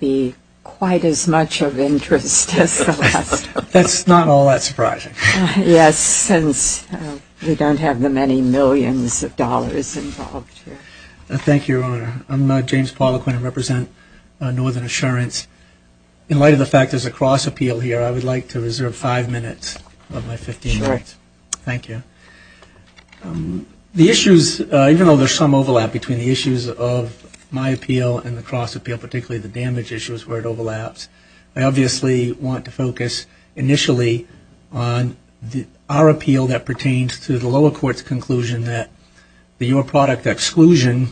Thank you, Your Honor. I'm James Poliquin. I represent Northern Assurance. In light of the fact there's a cross-appeal here, I would like to reserve five minutes of my 15 minutes. Thank you. The issues, even though there's some overlap between the issues of my appeal and the cross-appeal, particularly the damage issues where it overlaps, I obviously want to focus initially on our appeal that pertains to the lower court's conclusion that the Your Product exclusion,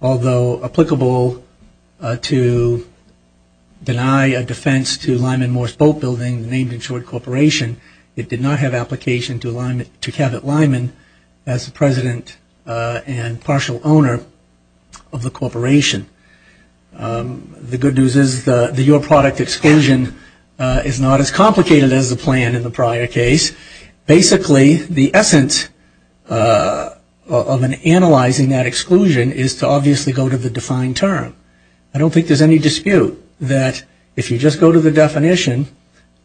although applicable to deny a defense to Lyman Morse Boatbuilding, the named insured corporation, it did not have application to Kevin Lyman as the president and partial owner of the corporation. The good news is the Your Product exclusion is not as complicated as the plan in the prior case. Basically, the essence of analyzing that exclusion is to obviously go to the defined term. I don't think there's any dispute that if you just go to the definition,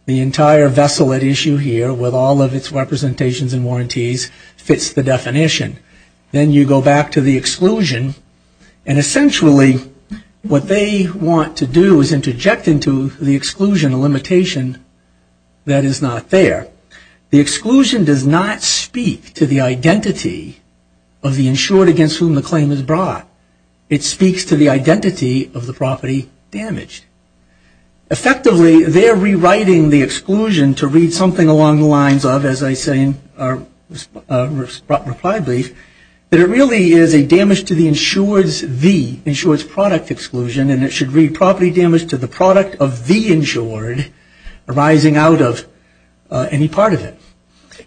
the entire vessel at issue here with all of its representations and warranties fits the definition. Then you go back to the exclusion and essentially what they want to do is interject into the exclusion a limitation that is not there. The exclusion does not speak to the identity of the insured against whom the claim is brought. It speaks to the identity of the property damaged. Effectively, they're rewriting the our reply brief, that it really is a damage to the insured's the, insured's product exclusion and it should read property damage to the product of the insured arising out of any part of it.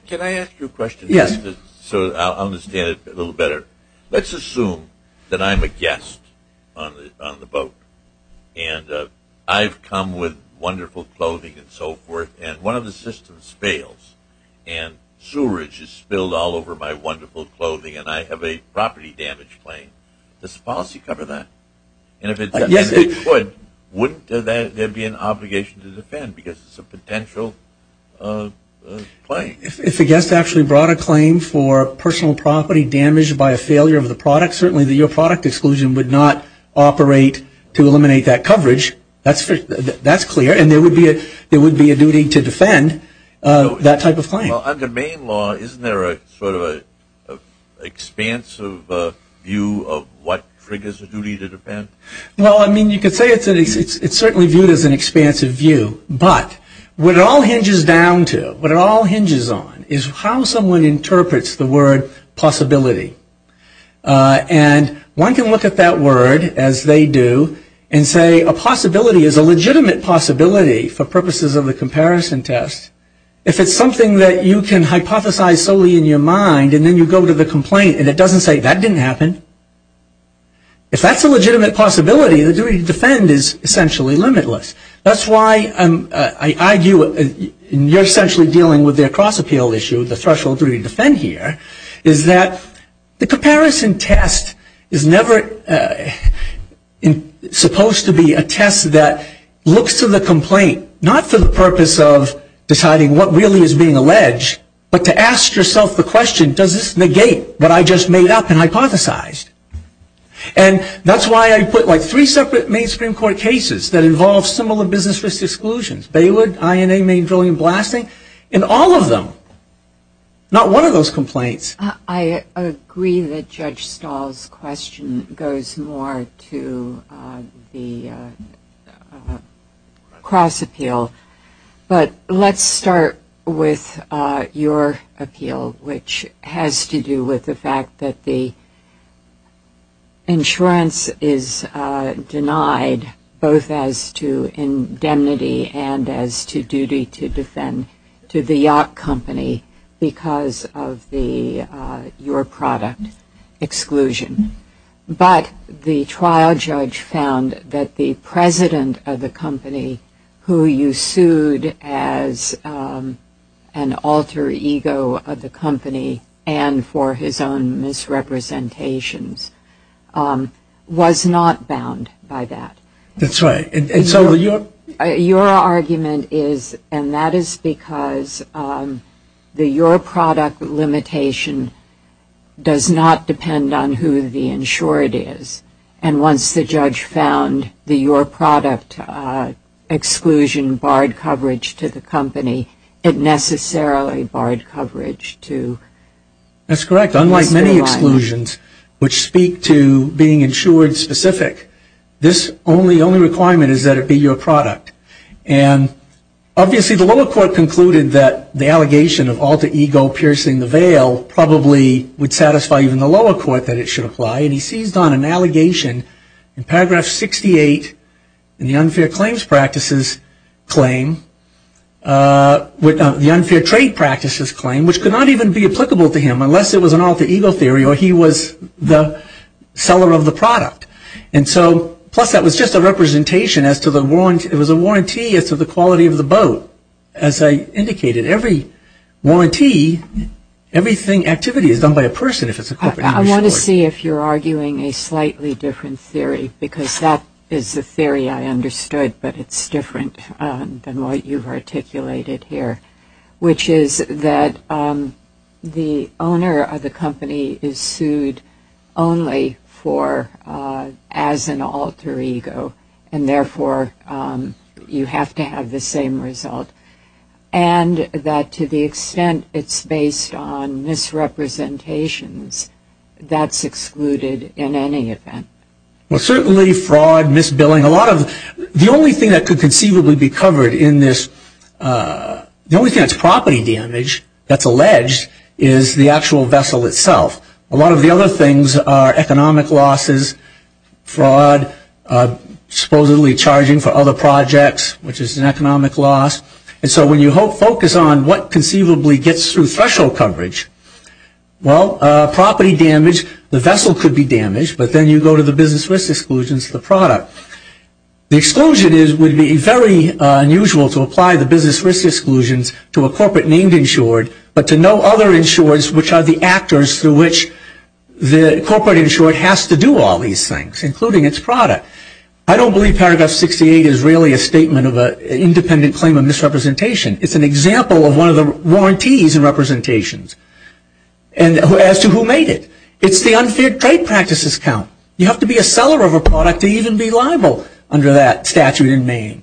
Can I ask you a question? Yes. So I'll understand it a little better. Let's assume that I'm a guest on the boat and I've come with wonderful clothing and so forth and one of the systems fails and sewerage is spilled all over my wonderful clothing and I have a property damage claim. Does the policy cover that? Yes. And if it would, wouldn't there be an obligation to defend because it's a potential claim? If the guest actually brought a claim for personal property damaged by a failure of the product, certainly your product exclusion would not operate to eliminate that coverage. That's clear and there would be a duty to defend that type of claim. Well, under Maine law, isn't there a sort of an expansive view of what triggers a duty to defend? Well, I mean, you could say it's certainly viewed as an expansive view, but what it all hinges down to, what it all hinges on, is how someone interprets the word possibility. And one can look at that word, as they do, and say a possibility is a legitimate possibility for purposes of the comparison test. If it's something that you can hypothesize solely in your mind and then you go to the complaint and it doesn't say, that didn't happen. If that's a legitimate possibility, the duty to defend is essentially limitless. That's why I argue, and you're essentially dealing with their cross-appeal issue, the threshold for duty to defend here, is that the comparison test is never supposed to be a test that looks to the complaint, not for the purpose of deciding what really is being alleged, but to ask yourself the question, does this negate what I just made up and hypothesized? And that's why I put like three separate Maine Supreme Court cases that involve similar business exclusions, Baywood, INA, Maine Drilling and Blasting, and all of them, not one of those complaints. I agree that Judge Stahl's question goes more to the cross-appeal, but let's start with your appeal, which has to do with the fact that the insurance is denied, both as to indemnity and as to duty to defend, to the Yacht Company, because of your product exclusion. But the trial judge found that the president of the company, who you sued as an alter ego of the company and for his own misrepresentations, was not bound by that. That's right. Your argument is, and that is because the your product limitation does not depend on who the insured is, and once the judge found the your product exclusion barred coverage to the company, it necessarily barred coverage to the company. That's correct. Unlike many exclusions, which speak to being insured specific, this only requirement is that it be your product. And obviously the lower court concluded that the allegation of alter ego piercing the veil probably would satisfy even the lower court that it should apply, and he seized on an allegation in paragraph 68 in the unfair trade practices claim, which could not even be applicable to him unless it was an alter ego theory or he was the seller of the product. And so, plus that was just a representation as to the, it was a warranty as to the quality of the boat. As I indicated, every warranty, everything, activity is done by a person if it's a corporation. I want to see if you're arguing a slightly different theory, because that is the theory I understood, but it's different than what you've articulated here, which is that the owner of the company is sued only for, as an alter ego, and therefore you have to have the same result. And that to the extent it's based on misrepresentations, that's excluded in any event. Well, certainly fraud, misbilling, a lot of, the only thing that could conceivably be covered in this, the only thing that's property damage that's alleged is the actual vessel itself. A lot of the other things are economic losses, fraud, supposedly charging for other projects, which is an economic loss. And so when you focus on what conceivably gets through threshold coverage, well, property damage, the vessel could be damaged, but then you go to the business risk exclusions, the product. The exclusion is, would be very unusual to apply the business risk exclusions to a corporate named insured, but to no other insureds which are the actors through which the corporate insured has to do all these things, including its product. I don't believe paragraph 68 is really a statement of an independent claim of misrepresentation. It's an example of one of the warranties and representations, and as to who made it. It's the unfair trade practices count. You have to be a seller of a product to even be liable under that statute in Maine.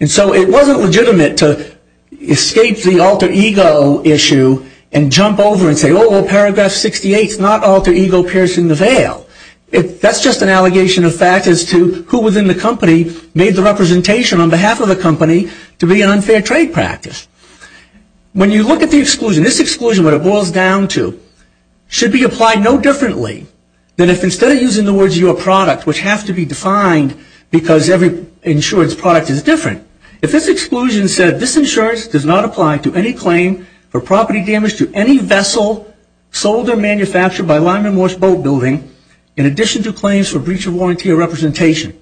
And so it wasn't legitimate to escape the alter ego issue and jump over and say, oh, paragraph 68 is not alter ego piercing the veil. That's just an allegation of fact as to who within the company made the representation on behalf of the company to be an unfair trade practice. When you look at the exclusion, this exclusion, what it boils down to, should be applied no differently than if instead of using the words your product, which have to be defined because every insured's product is different, if this exclusion said this insurance does not apply to any claim for property damage to any vessel sold or manufactured by Lyman Morse Boat Building, in addition to claims for breach of warranty or representation.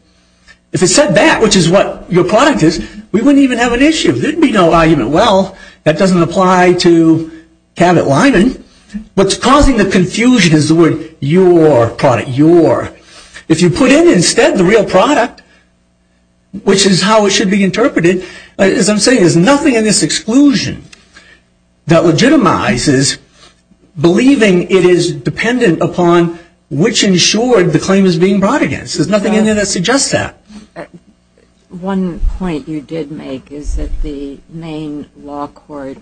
If it said that, which is what your product is, we wouldn't even have an issue. There'd be no argument, well, that doesn't apply to Cabot Lyman. What's causing the confusion is the word your product, your. If you put in instead the real product, which is how it should be interpreted, as I'm saying, there's nothing in this exclusion that legitimizes believing it is dependent upon which insured the claim is being brought against. There's nothing in there that suggests that. One point you did make is that the main law court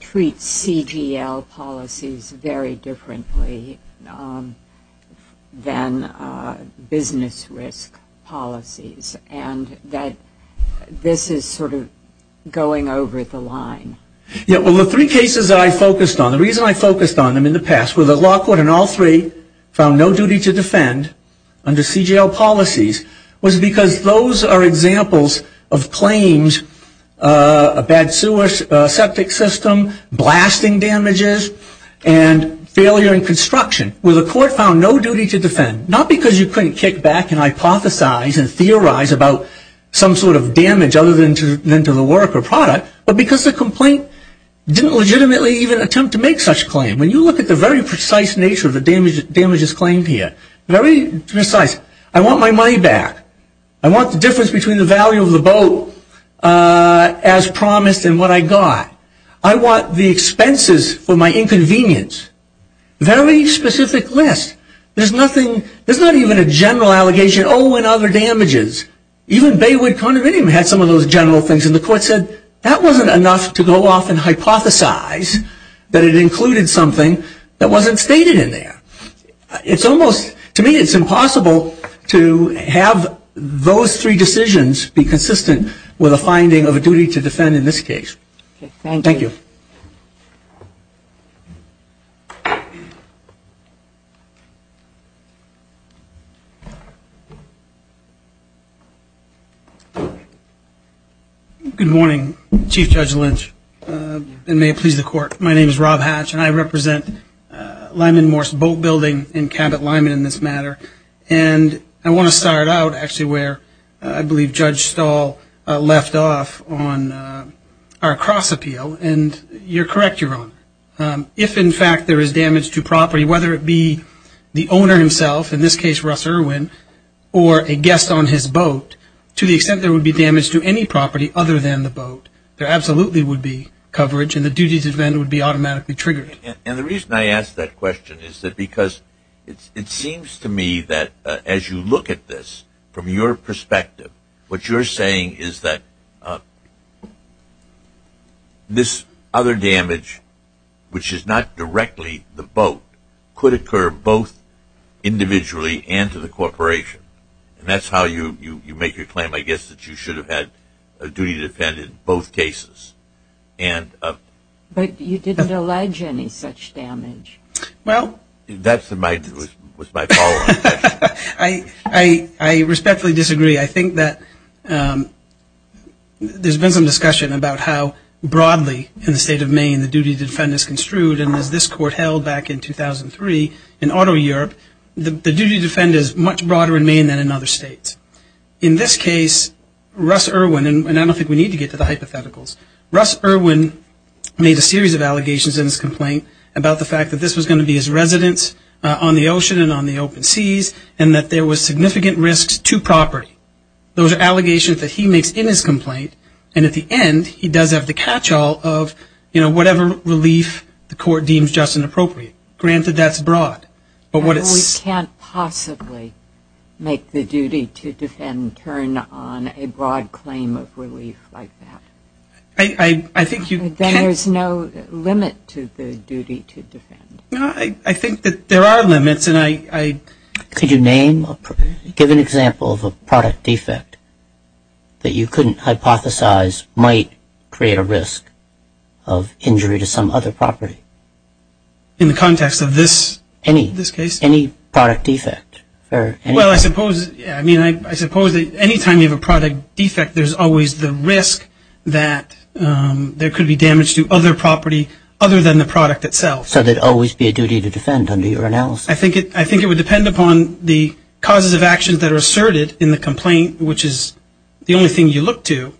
treats CGL policies very differently than business risk policies, and that this is sort of going over the line. Yeah, well, the three cases I focused on, the reason I focused on them in the past, where the law court in all three found no duty to defend under CGL policies, was because those are examples of claims, a bad sewer septic system, blasting damages, and failure in construction, where the court found no duty to defend, not because you couldn't kick back and hypothesize and theorize about some sort of damage other than to the work or product, but because the complaint didn't legitimately even attempt to make such a claim. When you look at the very precise nature of the damages claimed here, very precise. I want my money back. I want the difference between the value of the boat as promised and what I got. I want the expenses for my inconvenience. Very specific list. There's nothing, there's not even a general allegation, oh, and other damages. Even Baywood Condominium had some of those general things, and the court said, that wasn't enough to go off and hypothesize that it included something that wasn't stated in there. It's almost, to me, it's impossible to have those three decisions be consistent with a finding of a duty to defend in this case. Thank you. Good morning, Chief Judge Lynch, and may it please the court. My name is Rob Hatch, and I represent Lyman Morse Boat Building in Cabot Lyman in this matter, and I want to start out actually where I believe Judge Stahl left off on our cross appeal, and you're correct, Your Honor. If, in fact, there is damage to property, whether it be the owner himself, in this case, Russ Irwin, or a guest on his boat, to the extent there would be damage to any property other than the boat, there absolutely would be coverage, and the duty to defend would be automatically triggered. And the reason I ask that question is that because it seems to me that as you look at this from your perspective, what you're saying is that this other damage, which is not directly the boat, could occur both individually and to the corporation. And that's how you make your claim, I guess, that you should have had a duty to defend in both cases. And... But you didn't allege any such damage. Well, that was my following question. I respectfully disagree. I think that there's been some discussion about how broadly in the state of Maine the duty to defend is construed, and as this court held back in 2003 in auto Europe, the duty to defend is much broader in Maine than in other states. In this case, Russ Irwin, and I don't think we need to get to the hypotheticals, Russ Irwin made a series of allegations in his complaint about the fact that this was going to be his residence on the ocean and on the open seas, and that there was significant risks to property. Those are allegations that he makes in his complaint, and at the end, he does have the catch-all of whatever relief the court deems just and appropriate. Granted, that's broad. But what it's... We can't possibly make the duty to defend turn on a broad claim of relief like that. I think you can... There's no limit to the duty to defend. I think that there are limits, and I... Could you name a... Give an example of a product defect that you couldn't hypothesize might create a risk of injury to some other property? In the context of this case? Any product defect. Well, I suppose... I mean, I suppose that any time you have a product defect, there's always the risk that there could be damage to other property other than the product itself. So there'd always be a duty to defend under your analysis. I think it would depend upon the causes of actions that are asserted in the complaint, which is the only thing you look to.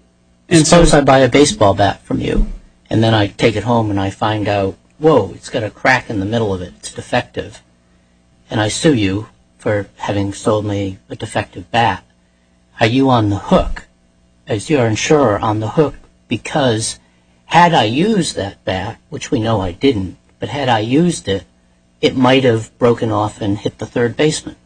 Suppose I buy a baseball bat from you, and then I take it home, and I find out, whoa, it's got a crack in the middle of it. It's defective. And I sue you for having sold me a defective bat. Are you on the hook, as your insurer, on the hook because had I used that bat, which we know I didn't, but had I used it, it might have broken off and hit the third basement?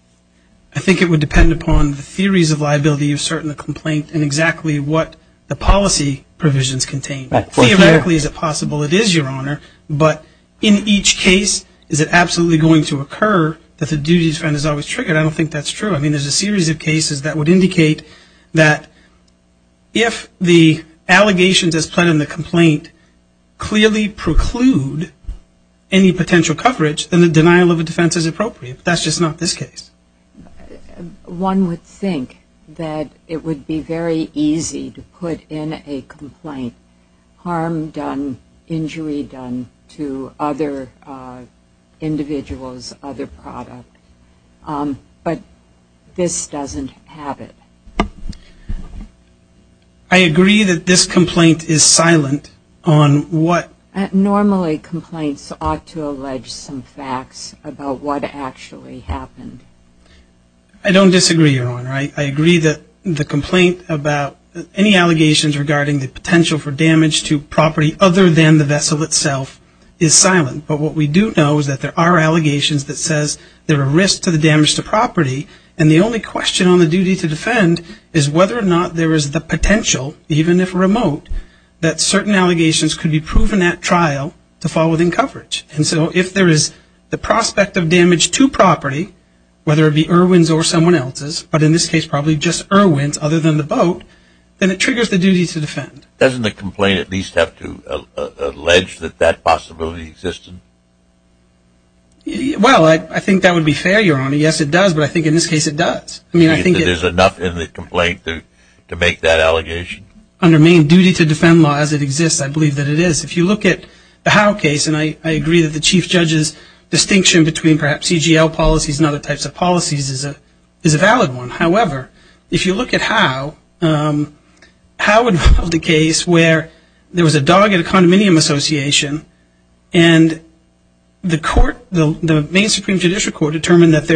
I think it would depend upon the theories of liability you assert in the complaint and exactly what the policy provisions contain. Theoretically, is it possible? It is, Your Honor. But in each case, is it absolutely going to occur that the duty to defend is always triggered? I don't think that's true. I mean, there's a series of cases that would indicate that if the allegations as put in the complaint clearly preclude any potential coverage, then the denial of a defense is appropriate. That's just not this case. One would think that it would be very easy to put in a complaint, harm done, injury done to other individuals, other product. But this doesn't have it. I agree that this complaint is silent on what? Normally, complaints ought to allege some facts about what actually happened. I don't disagree, Your Honor. I agree that the complaint about any allegations regarding the potential for damage to property other than the vessel itself is silent. But what we do know is that there are allegations that says there are risks to the damage to property, and the only question on the duty to defend is whether or not there is the potential, even if remote, that certain allegations could be proven at trial to fall within coverage. And so if there is the prospect of damage to property, whether it be Irwin's or someone else's, but in this case probably just Irwin's other than the boat, then it triggers the duty to defend. Doesn't the complaint at least have to allege that that possibility existed? Well, I think that would be fair, Your Honor. Yes, it does, but I think in this case it does. I mean, I think that there's enough in the complaint to make that allegation. Under main duty to defend laws, it exists. I believe that it is. If you look at the Howe case, and I agree that the Chief Judge's distinction between perhaps CGL policies and other types of policies is a valid one. However, if you look at Howe, Howe involved a case where there was a dog in a condominium association and the court, the main Supreme Judicial Court determined that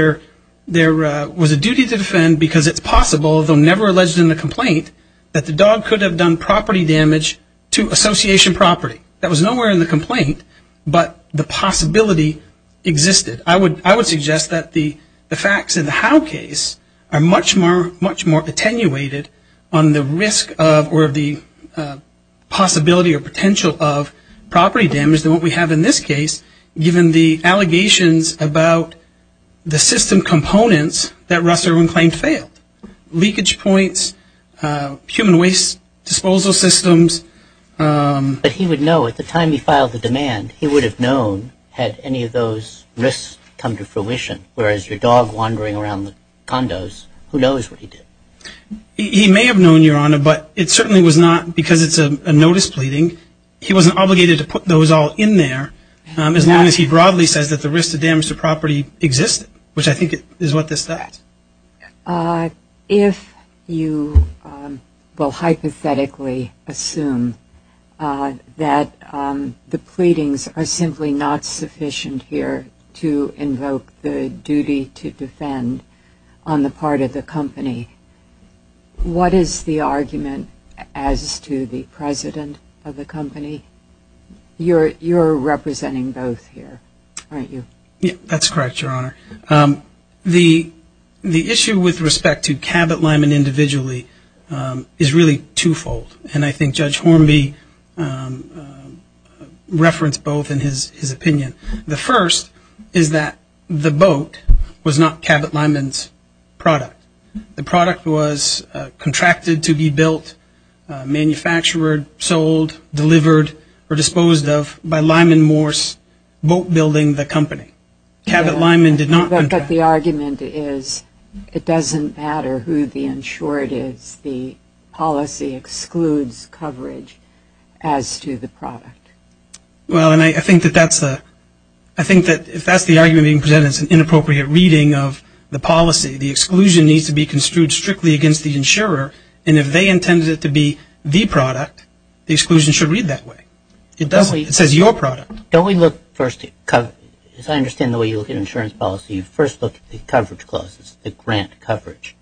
there was a duty to defend because it's possible, though never alleged in the complaint, that the dog could have done property damage to association property. That was nowhere in the complaint, but the possibility existed. I would suggest that the facts in the Howe case are much more attenuated on the risk or the possibility or potential of property damage than what we have in this case, given the allegations about the system components that Russell Irwin claimed failed. Leakage points, human waste disposal systems. But he would know, at the time he filed the demand, he would have known had any of those risks come to fruition, whereas your dog wandering around the condos, who knows what he did? He may have known, Your Honor, but it certainly was not because it's a notice pleading. He wasn't obligated to put those all in there, as long as he broadly says that the risk of damage to property existed, which I think is what this does. If you will hypothetically assume that the pleadings are simply not sufficient here to invoke the duty to defend on the part of the company, what is the argument as to the president of the company? You're representing both here, aren't you? Yeah, that's correct, Your Honor. The issue with respect to Cabot-Lyman individually is really twofold, and I think Judge Hornby referenced both in his opinion. The first is that the boat was not Cabot-Lyman's product. The product was contracted to be built, manufactured, sold, delivered, or disposed of by Lyman Morse boat building the company. Cabot-Lyman did not contract. But the argument is it doesn't matter who the insured is. The policy excludes coverage as to the product. Well, and I think that if that's the argument being presented, it's an inappropriate reading of the policy. The exclusion needs to be construed strictly against the insurer, and if they intended it to be the product, the exclusion should read that way. It says your product. Don't we look first, as I understand the way you look at insurance policy, you first look at the coverage clauses, the grant coverage.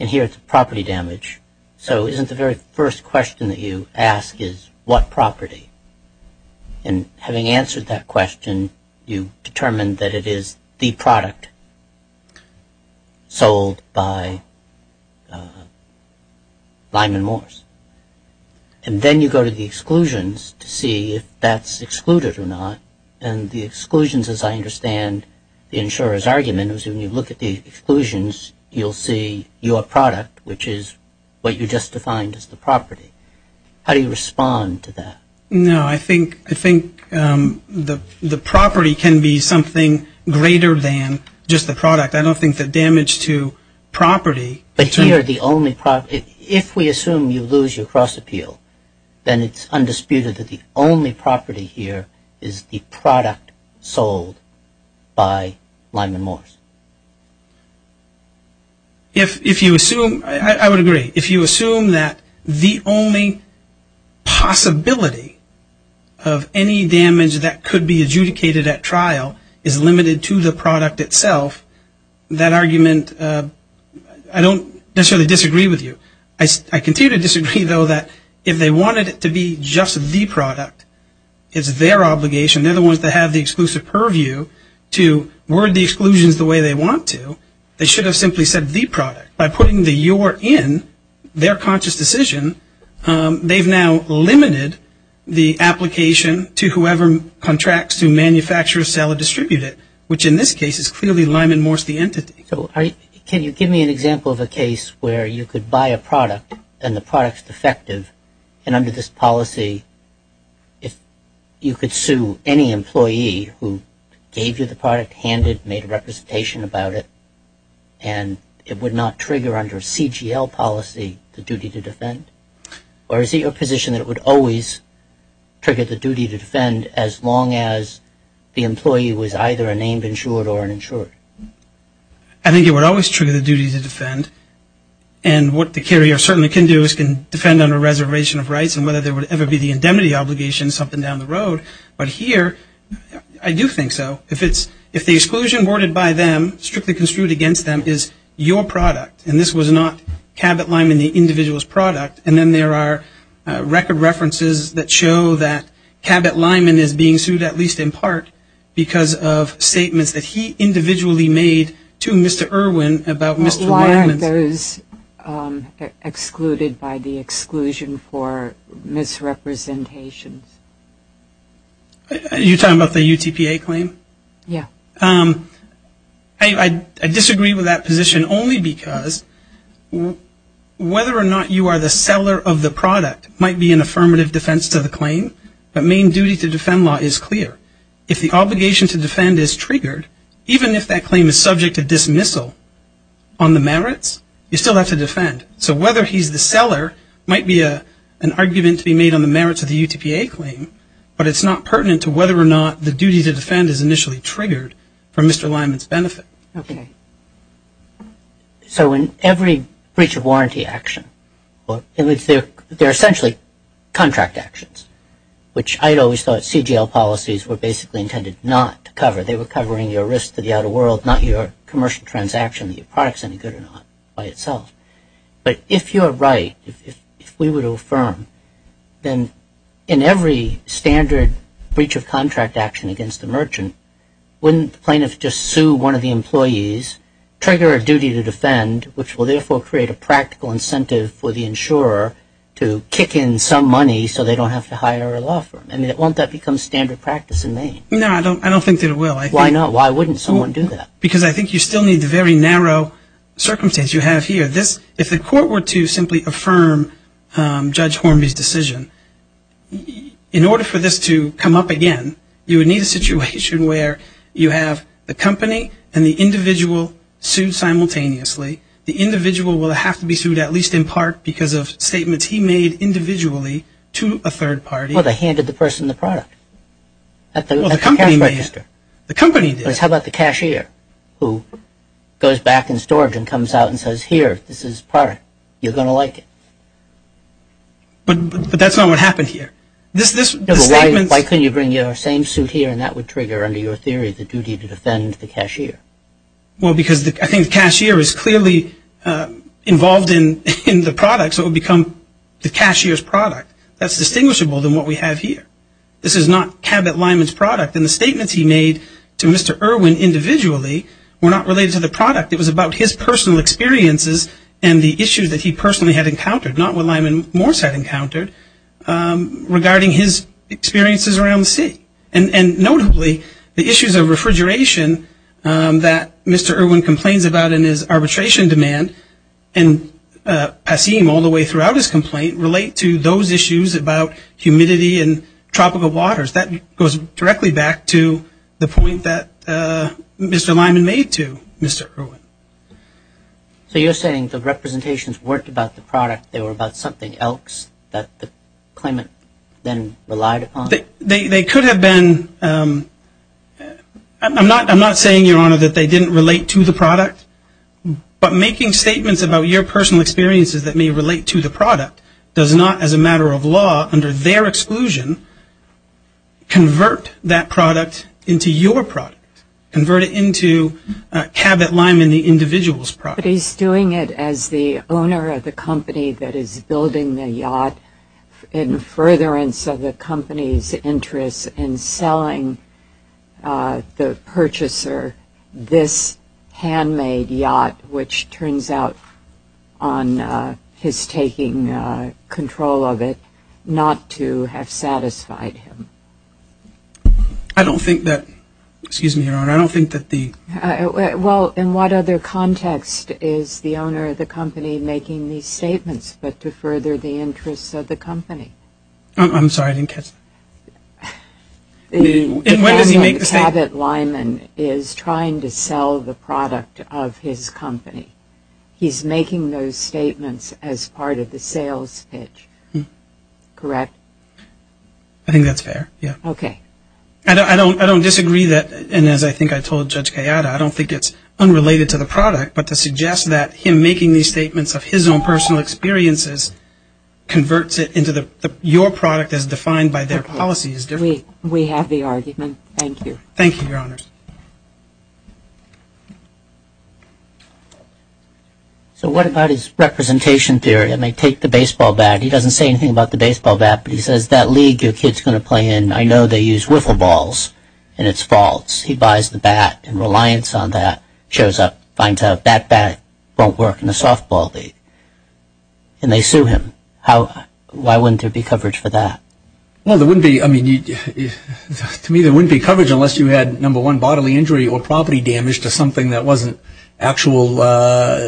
And here it's property damage. So isn't the very first question that you ask is what property? And having answered that question, you determine that it is the product sold by Lyman Morse. And then you go to the exclusions to see if that's excluded or not. And the exclusions, as I understand the insurer's argument, is when you look at the exclusions, you'll see your product, which is what you just defined as the property. How do you respond to that? No, I think the property can be something greater than just the product. I don't think the damage to property... But here the only property... If we assume you lose your cross appeal, then it's undisputed that the only property here is the product sold by Lyman Morse. If you assume... I would agree. If you assume that the only possibility of any damage that could be adjudicated at trial is limited to the product itself, that argument... I don't necessarily disagree with you. I continue to disagree, though, that if they wanted it to be just the product, it's their obligation. They're the ones that have the exclusive purview to word the exclusions the way they want to. They should have simply said the product. By putting the your in, their conscious decision, they've now limited the application to whoever contracts to manufacture, sell, or distribute it, which in this case is clearly Lyman Morse the entity. Can you give me an example of a case where you could buy a product and the product's defective, and under this policy, if you could sue any employee who gave you the product, handed, made a representation about it, and it would not trigger under a CGL policy the duty to defend? Or is it your position that it would always trigger the duty to defend as long as the employee was either a named insured or an insured? I think it would always trigger the duty to defend. And what the carrier certainly can do is can defend under a reservation of rights, and whether there would ever be the indemnity obligation, something down the road. But here, I do think so. If the exclusion worded by them, strictly construed against them, is your product, and this was not Cabot Lyman the individual's product, and then there are record references that show that Cabot Lyman is being sued, at least in part, because of statements that he individually made to Mr. Irwin about Mr. Lyman's. Why aren't those excluded by the exclusion for misrepresentations? You're talking about the UTPA claim? Yeah. I disagree with that position only because whether or not you are the seller of the product might be an affirmative defense to the claim, but main duty to defend law is clear. If the obligation to defend is triggered, even if that claim is subject to dismissal on the merits, you still have to defend. So whether he's the seller might be an argument to be made on the merits of the UTPA claim, but it's not pertinent to whether or not the duty to defend is initially triggered from Mr. Lyman's benefit. Okay. So in every breach of warranty action, there are essentially contract actions, which I always thought CGL policies were basically intended not to cover. They were covering your risk to the outer world, not your commercial transaction, your product's any good or not by itself. But if you're right, if we were to affirm, then in every standard breach of contract action against the merchant, wouldn't plaintiff just sue one of the employees, trigger a duty to defend, which will therefore create a practical incentive for the insurer to kick in some money so they don't have to hire a law firm. I mean, won't that become standard practice in Maine? No, I don't think that it will. Why not? Why wouldn't someone do that? Because I think you still need the very narrow circumstance you have here. If the court were to simply affirm Judge Hornby's decision, in order for this to come up again, you would need a situation where you have the company and the individual sued simultaneously. The individual will have to be sued at least in part because of statements he made individually to a third party. Well, they handed the person the product at the cash register. The company did. How about the cashier who goes back in storage and comes out and says, here, this is product. You're going to like it. But that's not what happened here. Why couldn't you bring your same suit here and that would trigger, under your theory, the duty to defend the cashier? Well, because I think the cashier is clearly involved in the product, so it would become the cashier's product. That's distinguishable than what we have here. This is not Cabot Lyman's product. And the statements he made to Mr. Irwin individually were not related to the product. It was about his personal experiences and the issues that he personally had encountered, not what Lyman Morse had encountered, regarding his experiences around the city. And notably, the issues of refrigeration that Mr. Irwin complains about in his arbitration demand, and I see him all the way throughout his complaint, relate to those issues about humidity and tropical waters. That goes directly back to the point that Mr. Lyman made to Mr. Irwin. So you're saying the representations weren't about the product. They were about something else that the claimant then relied upon? They could have been. I'm not saying, Your Honor, that they didn't relate to the product, but making statements about your personal experiences that may relate to the product does not, as a matter of law, under their exclusion, convert that product into your product, convert it into Cabot Lyman, the individual's product. But he's doing it as the owner of the company that is building the yacht in furtherance of the company's interests in selling the purchaser this handmade yacht, which turns out on his taking control of it not to have satisfied him. I don't think that, excuse me, Your Honor, I don't think that the... Well, in what other context is the owner of the company making these statements but to further the interests of the company? I'm sorry, I didn't catch that. And when does he make the statement? Cabot Lyman is trying to sell the product of his company. He's making those statements as part of the sales pitch, correct? I think that's fair, yeah. Okay. I don't disagree that, and as I think I told Judge Kayada, I don't think it's unrelated to the product, but to suggest that him making these statements of his own personal experiences converts it into your product as defined by their policy is different. We have the argument. Thank you. Thank you, Your Honor. So what about his representation theory? I mean, take the baseball bat. He doesn't say anything about the baseball bat, but he says that league your kid's going to play in, I know they use wiffle balls, and it's false. He buys the bat, and Reliance on that shows up, finds out that bat won't work in the softball league, and they sue him. Why wouldn't there be coverage for that? Well, there wouldn't be, I mean, to me there wouldn't be coverage unless you had, number one, bodily injury or property damage to something that wasn't actual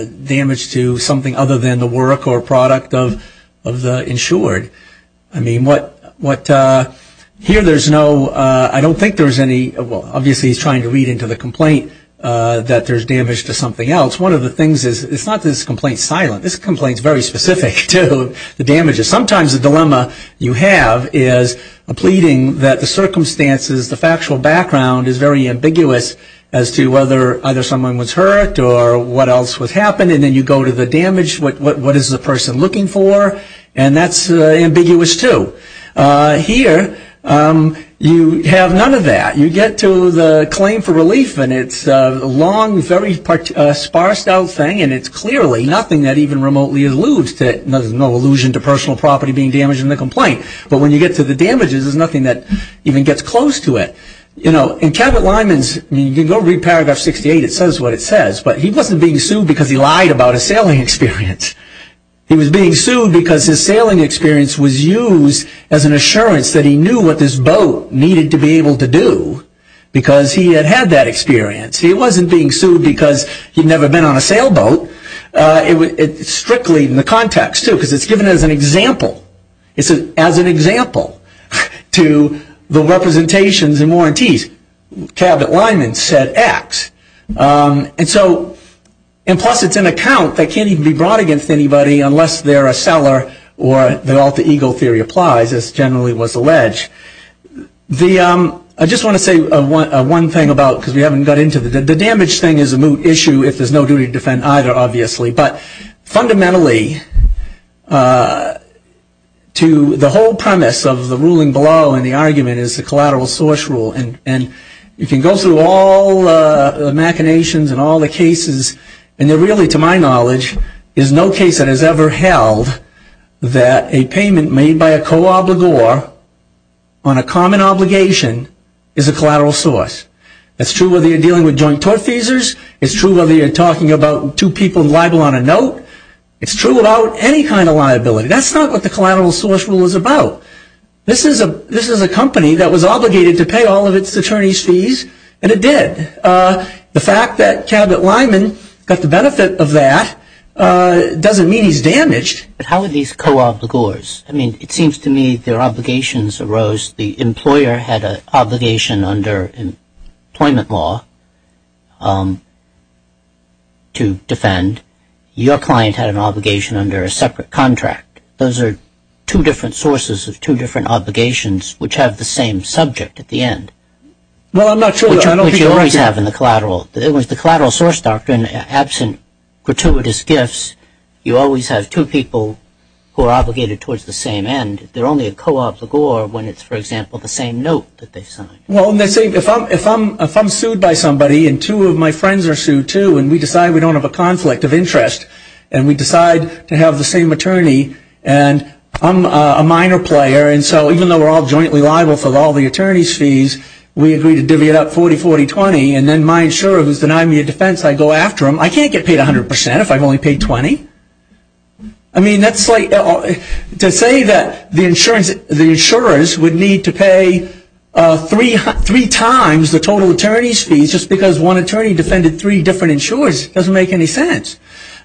damage to something other than the work or product of the insured. I mean, here there's no, I don't think there's any, well, obviously he's trying to read into the complaint that there's damage to something else. One of the things is, it's not that this complaint's silent. This complaint's very specific to the damages. Sometimes the dilemma you have is a pleading that the circumstances, the factual background is very ambiguous as to whether either someone was hurt or what else was happening, and then you go to the damage, what is the person looking for, and that's ambiguous too. Here you have none of that. You get to the claim for relief, and it's a long, very sparse-out thing, and it's clearly nothing that even remotely alludes to, there's no allusion to personal property being damaged in the complaint, but when you get to the damages, there's nothing that even gets close to it. You know, in Cabot-Lyman's, you can go read paragraph 68, it says what it says, but he wasn't being sued because he lied about his sailing experience. He was being sued because his sailing experience was used as an assurance that he knew what this boat needed to be able to do because he had had that experience. He wasn't being sued because he'd never been on a sailboat, it's strictly in the context too, because it's given as an example. It's as an example to the representations and warranties. Cabot-Lyman said X, and plus it's an account that can't even be brought against anybody unless they're a seller, or the alter ego theory applies, as generally was alleged. The, I just want to say one thing about, because we haven't got into the, the damage thing is a moot issue if there's no duty to defend either, obviously. But fundamentally, to the whole premise of the ruling below in the argument is the collateral source rule, and you can go through all the machinations and all the cases, and there really, to my knowledge, is no case that has ever held that a payment made by a co-obligor on a common obligation is a collateral source. It's true whether you're dealing with joint tort feasors, it's true whether you're talking about two people liable on a note, it's true about any kind of liability. That's not what the collateral source rule is about. This is a, this is a company that was obligated to pay all of its attorney's fees, and it did. The fact that Cabot-Lyman got the benefit of that doesn't mean he's damaged. How are these co-obligors? I mean, it seems to me their obligations arose, the employer had an obligation under employment law to defend. Your client had an obligation under a separate contract. Those are two different sources of two different obligations, which have the same subject at the end. Well, I'm not sure, I don't think- Which you always have in the collateral, it was the collateral source doctrine, absent gratuitous gifts, you always have two people who are obligated towards the same end. They're only a co-obligor when it's, for example, the same note that they signed. Well, if I'm sued by somebody and two of my friends are sued too, and we decide we don't have a conflict of interest, and we decide to have the same attorney, and I'm a minor player, and so even though we're all jointly liable for all the attorney's fees, we agree to divvy it up 40-40-20, and then my insurer who's denying me a defense, I go after him. I can't get paid 100% if I've only paid 20. I mean, that's like, to say that the insurance, the insurers would need to pay three times the total attorney's fees just because one attorney defended three different insurers doesn't make any sense.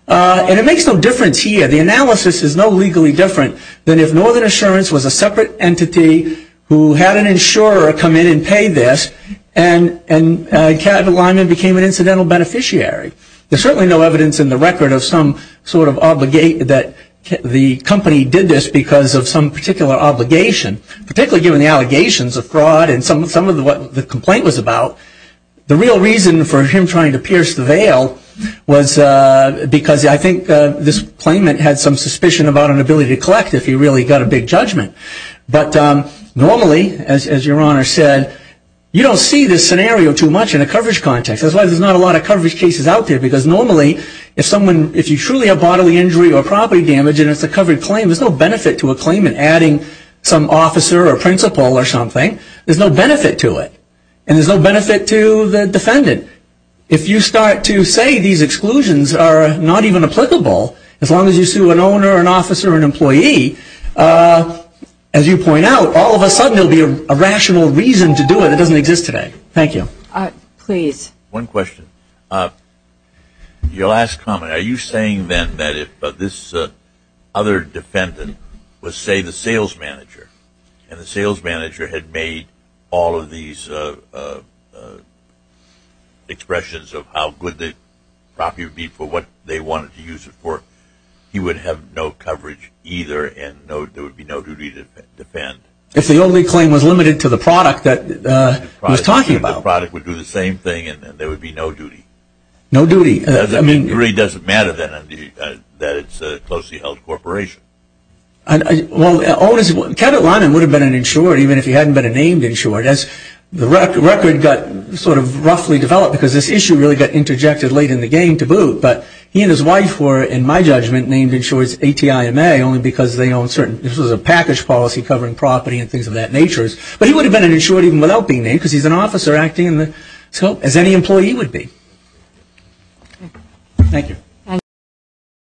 And it makes no difference here. The analysis is no legally different than if Northern Assurance was a separate entity who had an insurer come in and pay this, and Kevin Lyman became an incidental beneficiary. There's certainly no evidence in the record of some sort of obligate that the company did this because of some particular obligation, particularly given the allegations of fraud and some of what the complaint was about. The real reason for him trying to pierce the veil was because I think this claimant had some suspicion about an ability to collect if he really got a big judgment. But normally, as your honor said, you don't see this scenario too much in a coverage context. That's why there's not a lot of coverage cases out there. Because normally, if you truly have bodily injury or property damage and it's a covered claim, there's no benefit to a claimant adding some officer or principal or something. There's no benefit to it. And there's no benefit to the defendant. If you start to say these exclusions are not even applicable, as long as you sue an owner or an officer or an employee, as you point out, all of a sudden there will be a rational reason to do it that doesn't exist today. Thank you. Please. One question. Your last comment. Are you saying then that if this other defendant was, say, the sales manager, and the sales manager had made all of these expressions of how good the property would be for what they wanted to use it for, he would have no coverage either and there would be no duty to defend? If the only claim was limited to the product that he was talking about. The product would do the same thing and there would be no duty. No duty. I mean, it really doesn't matter then that it's a closely held corporation. Well, Kevin Liman would have been an insurer even if he hadn't been a named insurer. That's the record got sort of roughly developed because this issue really got interjected late in the game to boot. But he and his wife were, in my judgment, named insurers ATIMA only because they own certain, this was a package policy covering property and things of that nature. But he would have been an insurer even without being named because he's an officer acting in the scope as any employee would be. Thank you.